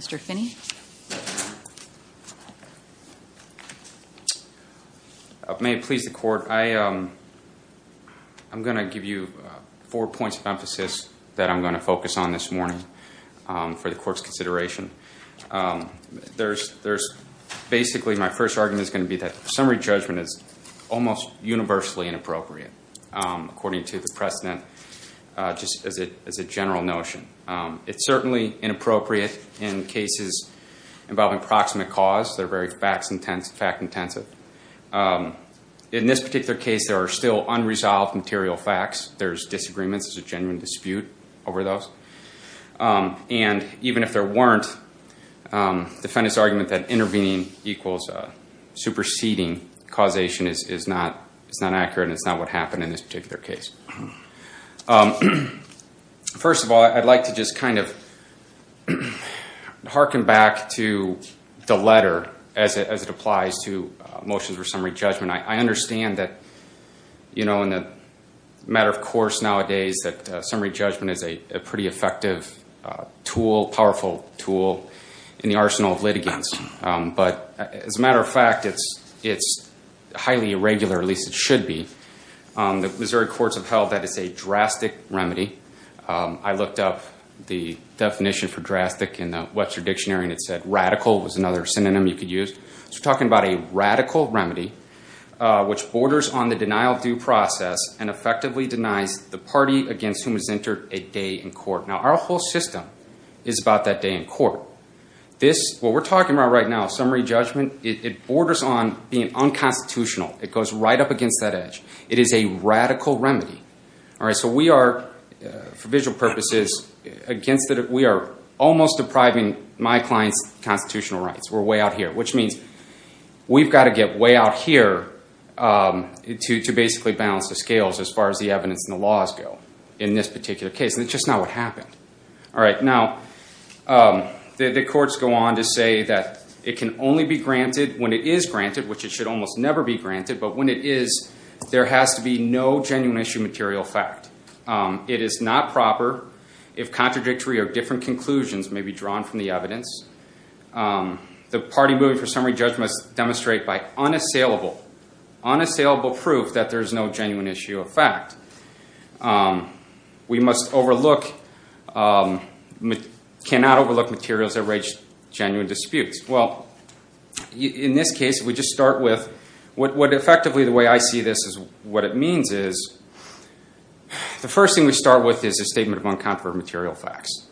Mr. Finney. May it please the court, I'm going to give you four points of emphasis that I'm going to focus on this morning for the court's consideration. Basically, my first argument is going to be that summary judgment is almost universally inappropriate. According to the precedent, just as a general notion. It's certainly inappropriate in cases involving proximate cause. They're very fact-intensive. In this particular case, there are still unresolved material facts. There's disagreements. There's a genuine dispute over those. Even if there weren't, the defendant's argument that intervening equals superseding causation is not accurate. It's not what happened in this particular case. First of all, I'd like to just kind of harken back to the letter as it applies to motions for summary judgment. I understand that in the matter of course nowadays that summary judgment is a pretty effective tool, powerful tool, in the arsenal of litigants. But as a matter of fact, it's highly irregular, at least it should be. The Missouri courts have held that it's a drastic remedy. I looked up the definition for drastic in the Webster Dictionary and it said radical was another synonym you could use. We're talking about a radical remedy which borders on the denial-of-due process and effectively denies the party against whom is entered a day in court. Now our whole system is about that day in court. What we're talking about right now, summary judgment, it borders on being unconstitutional. It goes right up against that edge. It is a radical remedy. For visual purposes, we are almost depriving my client's constitutional rights. We're way out here, which means we've got to get way out here to basically balance the scales as far as the evidence and the laws go in this particular case. And it's just not what happened. Now the courts go on to say that it can only be granted when it is granted, which it should almost never be granted. But when it is, there has to be no genuine issue material fact. It is not proper if contradictory or different conclusions may be drawn from the evidence. The party moving for summary judgment must demonstrate by unassailable proof that there is no genuine issue of fact. We cannot overlook materials that raise genuine disputes. Well, in this case, we just start with what effectively the way I see this is what it means is the first thing we start with is a statement of uncontroversial material facts.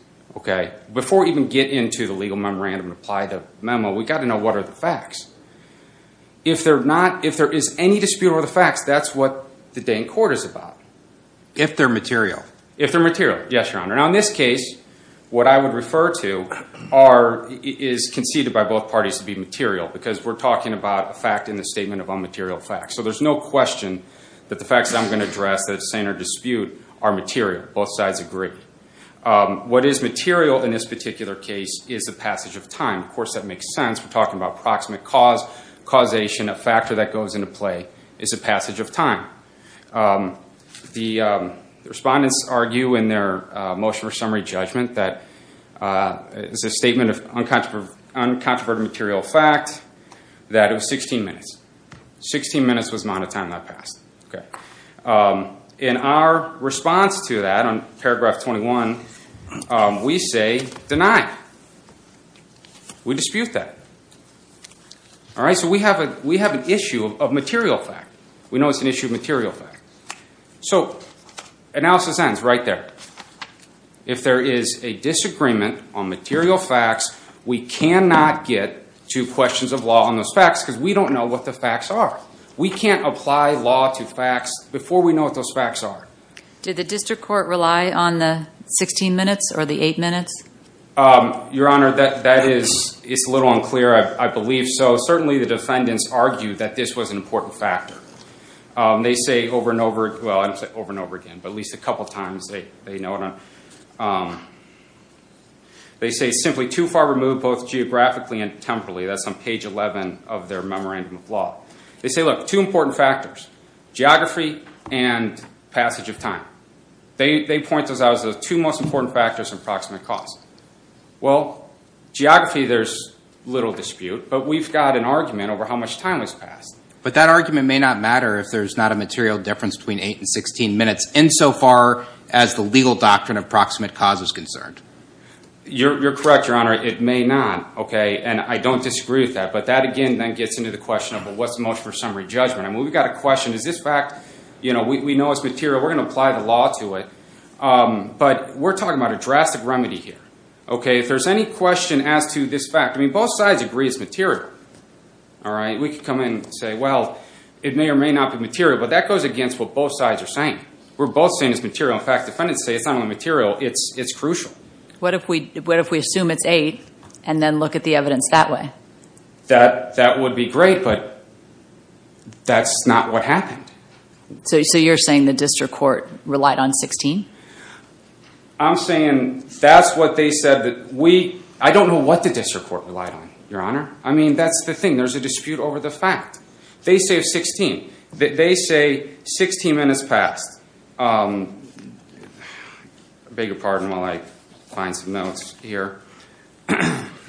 Before we even get into the legal memorandum and apply the memo, we've got to know what are the facts. If there is any dispute over the facts, that's what the day in court is about. If they're material. If they're material, yes, Your Honor. Now in this case, what I would refer to is conceded by both parties to be material because we're talking about a fact in the statement of unmaterial facts. So there's no question that the facts that I'm going to address, that it's saying they're dispute, are material. Both sides agree. What is material in this particular case is the passage of time. Of course, that makes sense. We're talking about proximate cause, causation, a factor that goes into play is a passage of time. The respondents argue in their motion for summary judgment that it's a statement of uncontroverted material fact that it was 16 minutes. 16 minutes was the amount of time that passed. In our response to that on paragraph 21, we say deny. We dispute that. So we have an issue of material fact. We know it's an issue of material fact. So analysis ends right there. If there is a disagreement on material facts, we cannot get to questions of law on those facts because we don't know what the facts are. We can't apply law to facts before we know what those facts are. Did the district court rely on the 16 minutes or the 8 minutes? Your Honor, that is a little unclear. I believe so. Certainly, the defendants argue that this was an important factor. They say over and over again, but at least a couple of times, they say simply too far removed both geographically and temporally. That's on page 11 of their memorandum of law. They say, look, two important factors, geography and passage of time. They point those out as the two most important factors in proximate cause. Well, geography, there's little dispute. But we've got an argument over how much time was passed. But that argument may not matter if there's not a material difference between 8 and 16 minutes insofar as the legal doctrine of proximate cause is concerned. You're correct, Your Honor. It may not. And I don't disagree with that. But that, again, then gets into the question of what's most for summary judgment. I mean, we've got a question. Is this fact? We know it's material. We're going to apply the law to it. But we're talking about a drastic remedy here. If there's any question as to this fact, I mean, both sides agree it's material. We could come in and say, well, it may or may not be material. But that goes against what both sides are saying. We're both saying it's material. In fact, defendants say it's not only material, it's crucial. What if we assume it's 8 and then look at the evidence that way? That would be great, but that's not what happened. So you're saying the district court relied on 16? I'm saying that's what they said. I don't know what the district court relied on, Your Honor. I mean, that's the thing. There's a dispute over the fact. They say 16. They say 16 minutes passed. I beg your pardon while I find some notes here.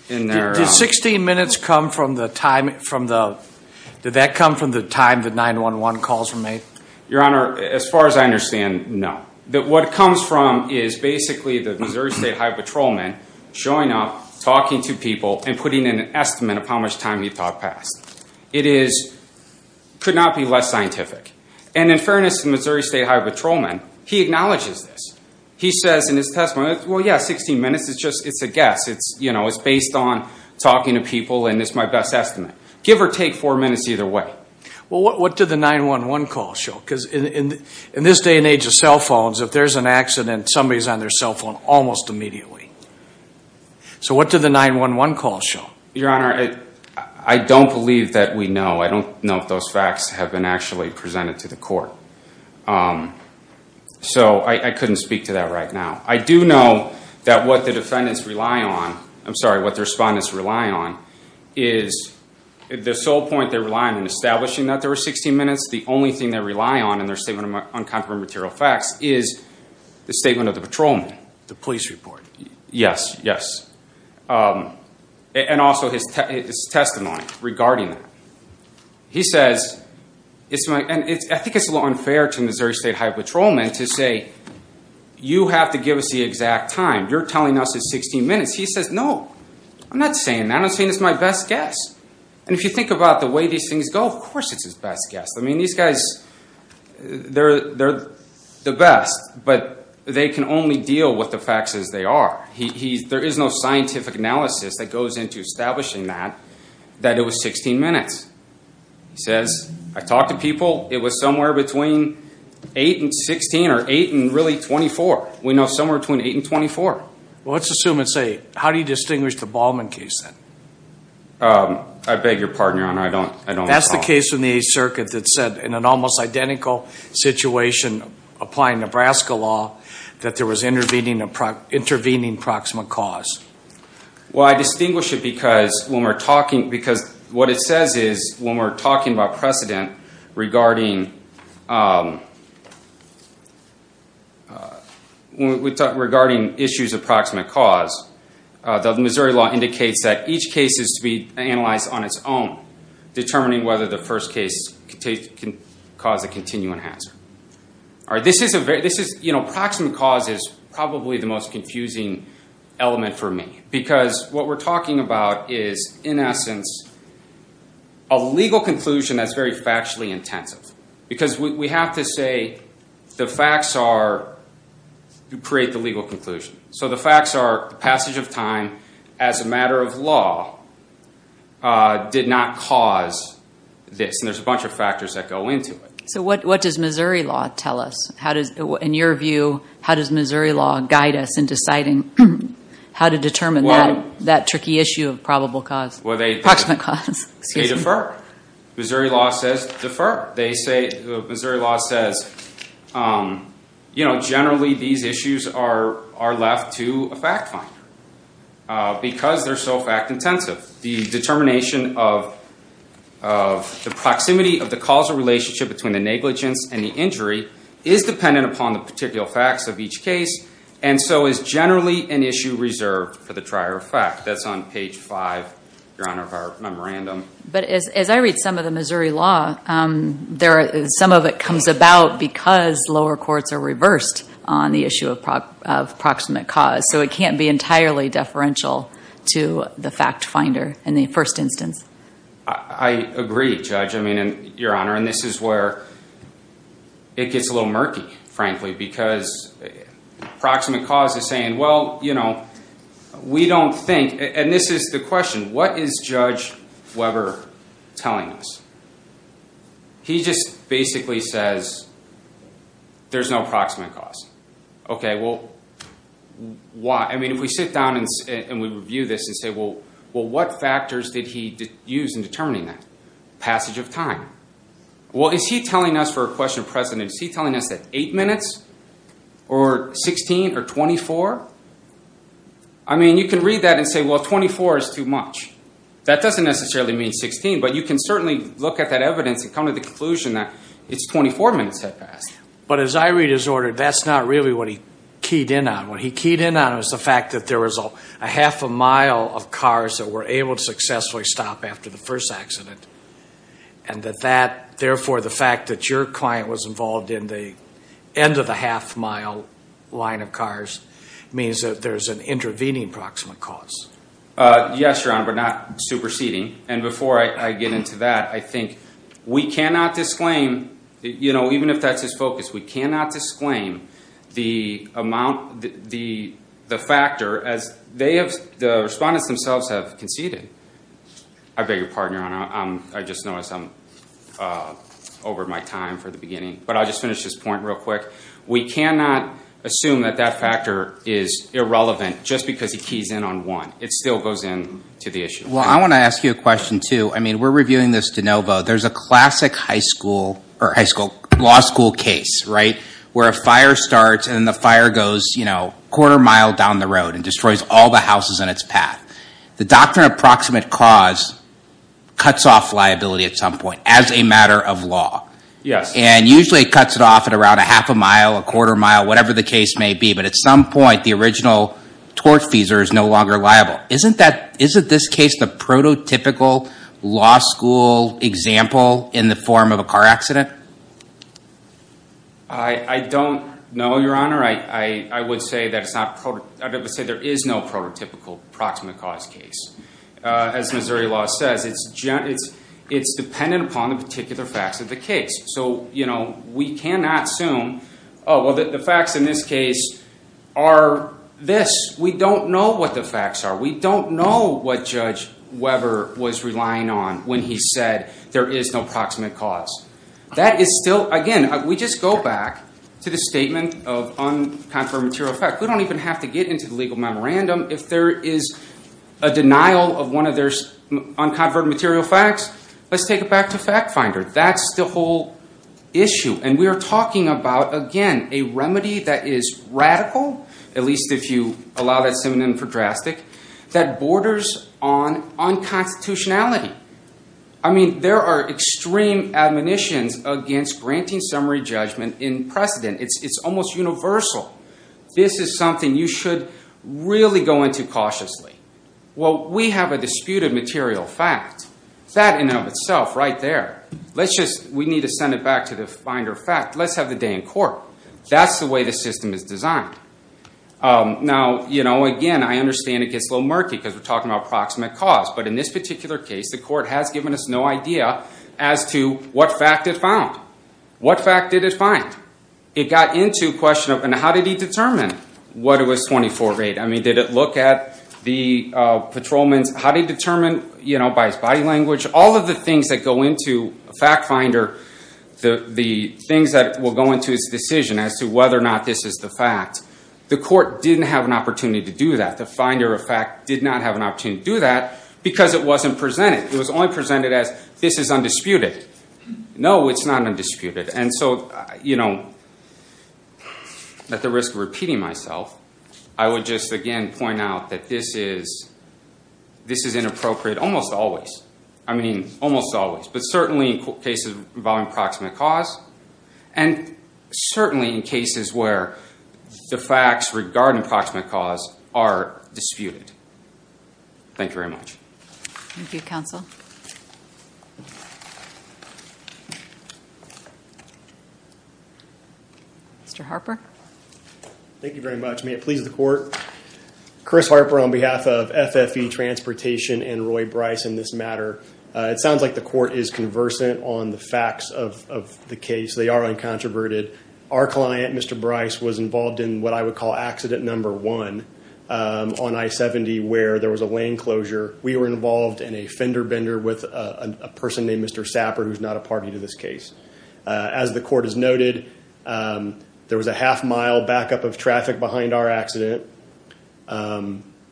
Did 16 minutes come from the time the 911 calls were made? Your Honor, as far as I understand, no. What it comes from is basically the Missouri State Highway Patrolman showing up, talking to people, and putting in an estimate of how much time he thought passed. It could not be less scientific. And in fairness to the Missouri State Highway Patrolman, he acknowledges this. He says in his testimony, well, yeah, 16 minutes, it's a guess. It's based on talking to people, and it's my best estimate. Give or take four minutes either way. Well, what did the 911 call show? Because in this day and age of cell phones, if there's an accident, somebody's on their cell phone almost immediately. So what did the 911 call show? Your Honor, I don't believe that we know. I don't know if those facts have been actually presented to the court. So I couldn't speak to that right now. I do know that what the defendants rely on, I'm sorry, what the respondents rely on, is the sole point they rely on in establishing that there were 16 minutes, the only thing they rely on in their statement on comparable material facts, is the statement of the patrolman. The police report. Yes, yes. And also his testimony regarding that. He says, and I think it's a little unfair to the Missouri State Highway Patrolman to say, you have to give us the exact time. You're telling us it's 16 minutes. He says, no, I'm not saying that. I'm saying it's my best guess. And if you think about the way these things go, of course it's his best guess. I mean, these guys, they're the best, but they can only deal with the facts as they are. There is no scientific analysis that goes into establishing that, that it was 16 minutes. He says, I talked to people, it was somewhere between 8 and 16 or 8 and really 24. We know somewhere between 8 and 24. Well, let's assume it's 8. How do you distinguish the Ballman case then? I beg your pardon, Your Honor, I don't recall. That's the case in the Eighth Circuit that said in an almost identical situation, applying Nebraska law, that there was intervening proximate cause. Well, I distinguish it because what it says is, when we're talking about precedent regarding issues of proximate cause, the Missouri law indicates that each case is to be analyzed on its own, determining whether the first case can cause a continuing hazard. Proximate cause is probably the most confusing element for me, because what we're talking about is, in essence, a legal conclusion that's very factually intensive, because we have to say the facts are to create the legal conclusion. So the facts are the passage of time as a matter of law did not cause this, and there's a bunch of factors that go into it. So what does Missouri law tell us? In your view, how does Missouri law guide us in deciding how to determine that tricky issue of proximate cause? They defer. Missouri law says, generally these issues are left to a fact finder, because they're so fact intensive. The determination of the proximity of the causal relationship between the negligence and the injury is dependent upon the particular facts of each case, and so is generally an issue reserved for the trier of fact. That's on page 5, Your Honor, of our memorandum. But as I read some of the Missouri law, some of it comes about because lower courts are reversed on the issue of proximate cause, so it can't be entirely deferential to the fact finder in the first instance. I agree, Judge. I mean, Your Honor, and this is where it gets a little murky, frankly, because proximate cause is saying, well, you know, we don't think, and this is the question, what is Judge Weber telling us? He just basically says there's no proximate cause. Okay, well, why? I mean, if we sit down and we review this and say, well, what factors did he use in determining that? Passage of time. Well, is he telling us for a question of precedence, is he telling us that 8 minutes or 16 or 24? I mean, you can read that and say, well, 24 is too much. That doesn't necessarily mean 16, but you can certainly look at that evidence and come to the conclusion that it's 24 minutes had passed. But as I read his order, that's not really what he keyed in on. What he keyed in on was the fact that there was a half a mile of cars that were able to successfully stop after the first accident, and that therefore the fact that your client was involved in the end of the half mile line of cars means that there's an intervening proximate cause. Yes, Your Honor, but not superseding. And before I get into that, I think we cannot disclaim, you know, even if that's his focus, we cannot disclaim the factor as the respondents themselves have conceded. I beg your pardon, Your Honor. I just noticed I'm over my time for the beginning, but I'll just finish this point real quick. We cannot assume that that factor is irrelevant just because he keys in on one. It still goes in to the issue. Well, I want to ask you a question, too. I mean, we're reviewing this de novo. There's a classic high school or high school law school case, right, where a fire starts and the fire goes, you know, a quarter mile down the road and destroys all the houses in its path. The doctrine of proximate cause cuts off liability at some point as a matter of law. Yes. And usually it cuts it off at around a half a mile, a quarter mile, whatever the case may be. But at some point, the original torch feeser is no longer liable. Isn't this case the prototypical law school example in the form of a car accident? I don't know, Your Honor. I would say there is no prototypical proximate cause case. As Missouri law says, it's dependent upon the particular facts of the case. So, you know, we cannot assume, oh, well, the facts in this case are this. We don't know what the facts are. We don't know what Judge Weber was relying on when he said there is no proximate cause. That is still, again, we just go back to the statement of unconverted material fact. We don't even have to get into the legal memorandum. If there is a denial of one of their unconverted material facts, let's take it back to FactFinder. That's the whole issue. And we are talking about, again, a remedy that is radical, at least if you allow that synonym for drastic, that borders on unconstitutionality. I mean, there are extreme admonitions against granting summary judgment in precedent. It's almost universal. This is something you should really go into cautiously. Well, we have a disputed material fact. That in and of itself right there. Let's just, we need to send it back to the Finder fact. Let's have the day in court. That's the way the system is designed. Now, you know, again, I understand it gets a little murky because we're talking about proximate cause. But in this particular case, the court has given us no idea as to what fact it found. What fact did it find? It got into a question of, and how did he determine what was 24-8? I mean, did it look at the patrolman's, how did he determine, you know, by his body language? All of the things that go into a fact finder, the things that will go into its decision as to whether or not this is the fact, the court didn't have an opportunity to do that. The Finder, in fact, did not have an opportunity to do that because it wasn't presented. It was only presented as, this is undisputed. No, it's not undisputed. And so, you know, at the risk of repeating myself, I would just again point out that this is inappropriate almost always. I mean, almost always, but certainly in cases involving proximate cause and certainly in cases where the facts regarding proximate cause are disputed. Thank you very much. Thank you, counsel. Mr. Harper. Thank you very much. May it please the court. Chris Harper on behalf of FFE Transportation and Roy Bryce in this matter. It sounds like the court is conversant on the facts of the case. They are uncontroverted. Our client, Mr. Bryce, was involved in what I would call accident number one on I-70 where there was a lane closure. We were involved in a fender bender with a person named Mr. Sapper who's not a party to this case. As the court has noted, there was a half mile backup of traffic behind our accident.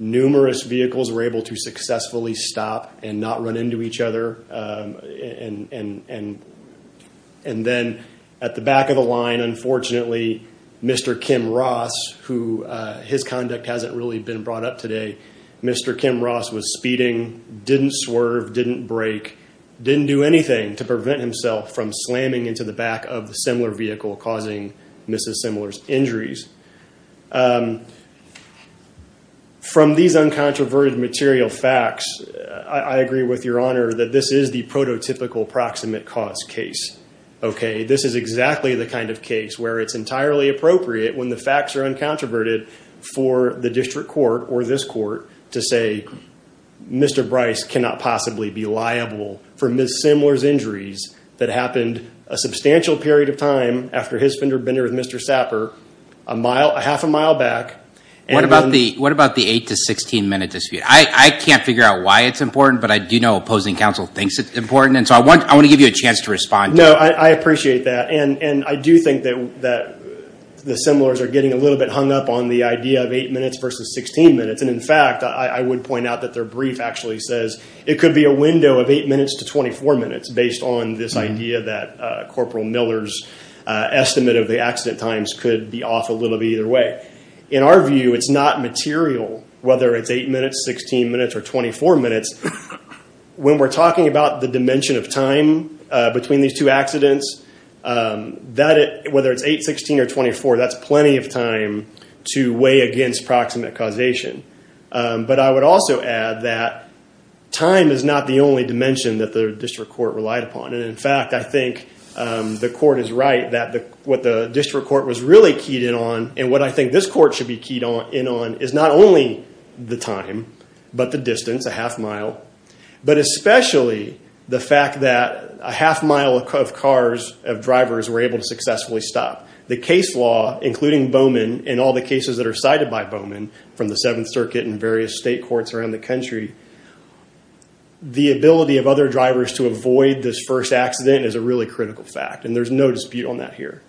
Numerous vehicles were able to successfully stop and not run into each other. And then at the back of the line, unfortunately, Mr. Kim Ross, who his conduct hasn't really been brought up today, Mr. Kim Ross was speeding, didn't swerve, didn't brake, didn't do anything to prevent himself from slamming into the back of the similar vehicle causing Mrs. Simler's injuries. From these uncontroverted material facts, I agree with your honor that this is the prototypical proximate cause case. This is exactly the kind of case where it's entirely appropriate when the facts are uncontroverted for the district court or this court to say, Mr. Bryce cannot possibly be liable for Mrs. Simler's injuries that happened a substantial period of time after his fender bender with Mr. Sapper a half a mile back. What about the eight to 16 minute dispute? I can't figure out why it's important, but I do know opposing counsel thinks it's important. And so I want to give you a chance to respond. No, I appreciate that. And I do think that the Simlers are getting a little bit hung up on the idea of eight minutes versus 16 minutes. And in fact, I would point out that their brief actually says it could be a window of eight minutes to 24 minutes based on this idea that Corporal Miller's estimate of the accident times could be off a little bit either way. In our view, it's not material, whether it's eight minutes, 16 minutes, or 24 minutes. When we're talking about the dimension of time between these two accidents, whether it's eight, 16, or 24, that's plenty of time to weigh against proximate causation. But I would also add that time is not the only dimension that the district court relied upon. And in fact, I think the court is right that what the district court was really keyed in on and what I think this court should be keyed in on is not only the time, but the distance, a half mile, but especially the fact that a half mile of cars of drivers were able to successfully stop. The case law, including Bowman and all the cases that are cited by Bowman from the Seventh Circuit and various state courts around the country, the ability of other drivers to avoid this first accident is a really critical fact, and there's no dispute on that here.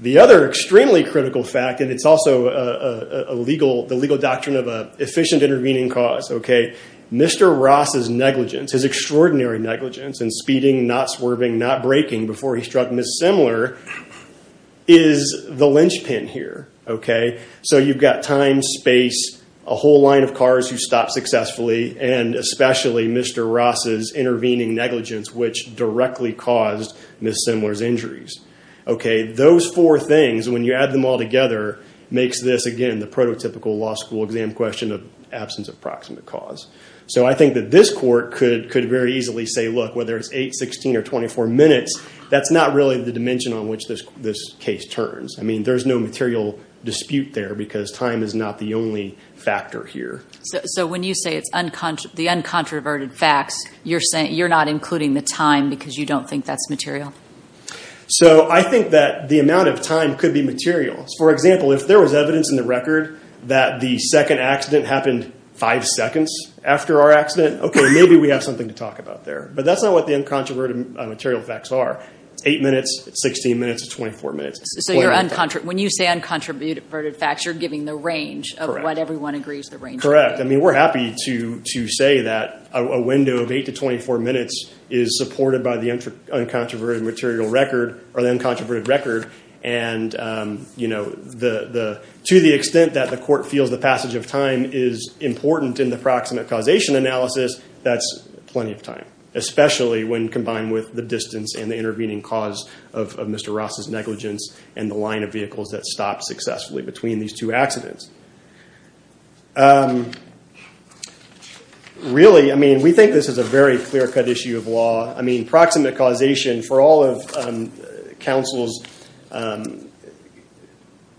The other extremely critical fact, and it's also the legal doctrine of an efficient intervening cause, Mr. Ross's negligence, his extraordinary negligence in speeding, not swerving, not braking before he struck Ms. Simler, is the linchpin here. So you've got time, space, a whole line of cars who stopped successfully, and especially Mr. Ross's intervening negligence, which directly caused Ms. Simler's injuries. Those four things, when you add them all together, makes this, again, the prototypical law school exam question of absence of proximate cause. So I think that this court could very easily say, look, whether it's 8, 16, or 24 minutes, that's not really the dimension on which this case turns. I mean, there's no material dispute there because time is not the only factor here. So when you say it's the uncontroverted facts, you're not including the time because you don't think that's material? So I think that the amount of time could be material. For example, if there was evidence in the record that the second accident happened five seconds after our accident, okay, maybe we have something to talk about there, but that's not what the uncontroverted material facts are. It's 8 minutes, 16 minutes, or 24 minutes. So when you say uncontroverted facts, you're giving the range of what everyone agrees the range is. Correct. I mean, we're happy to say that a window of 8 to 24 minutes is supported by the uncontroverted material record or the uncontroverted record. And to the extent that the court feels the passage of time is important in the proximate causation analysis, that's plenty of time, especially when combined with the distance and the intervening cause of Mr. Ross's negligence and the line of vehicles that stopped successfully between these two accidents. Really, I mean, we think this is a very clear-cut issue of law. I mean, proximate causation, for all of counsel's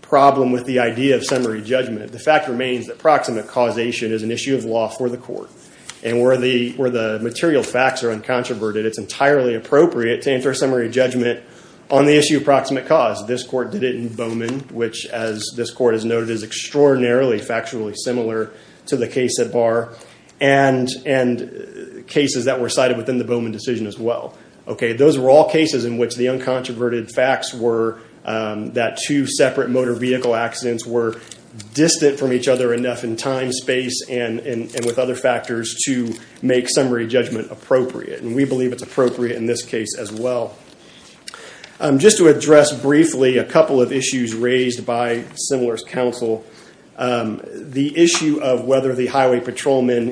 problem with the idea of summary judgment, the fact remains that proximate causation is an issue of law for the court. And where the material facts are uncontroverted, it's entirely appropriate to enter a summary judgment on the issue of proximate cause. This court did it in Bowman, which, as this court has noted, is extraordinarily factually similar to the case at Barr and cases that were cited within the Bowman decision as well. Those were all cases in which the uncontroverted facts were that two separate motor vehicle accidents were distant from each other enough in time, space, and with other factors to make summary judgment appropriate. And we believe it's appropriate in this case as well. Just to address briefly a couple of issues raised by similar counsel, the issue of whether the highway patrolman,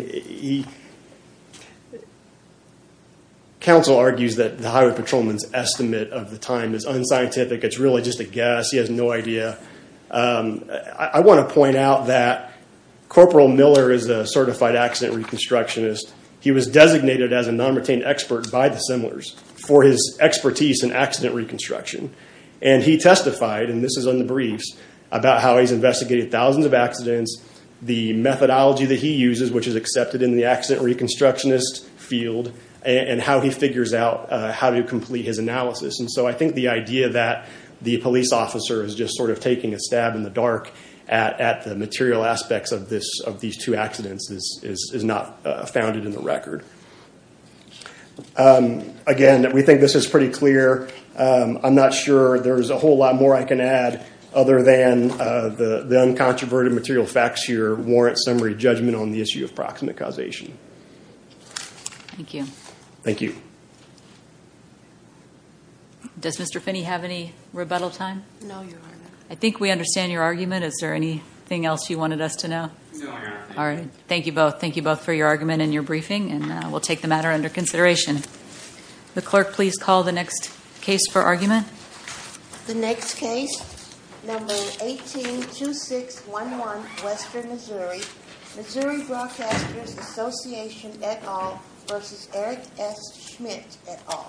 counsel argues that the highway patrolman's estimate of the time is unscientific. It's really just a guess. He has no idea. I want to point out that Corporal Miller is a certified accident reconstructionist. He was designated as a non-retained expert by the Similars for his expertise in accident reconstruction. And he testified, and this is on the briefs, about how he's investigated thousands of accidents, the methodology that he uses, which is accepted in the accident reconstructionist field, and how he figures out how to complete his analysis. And so I think the idea that the police officer is just sort of taking a stab in the dark at the material aspects of these two accidents is not founded in the record. Again, we think this is pretty clear. I'm not sure there's a whole lot more I can add other than the uncontroverted material facts here warrant summary judgment on the issue of proximate causation. Thank you. Does Mr. Finney have any rebuttal time? No, Your Honor. I think we understand your argument. Is there anything else you wanted us to know? No, Your Honor. All right. Thank you both. Thank you both for your argument and your briefing, and we'll take the matter under consideration. The clerk, please call the next case for argument. The next case, number 182611, Western Missouri, Missouri Broadcasters Association et al. v. Eric S. Schmidt et al.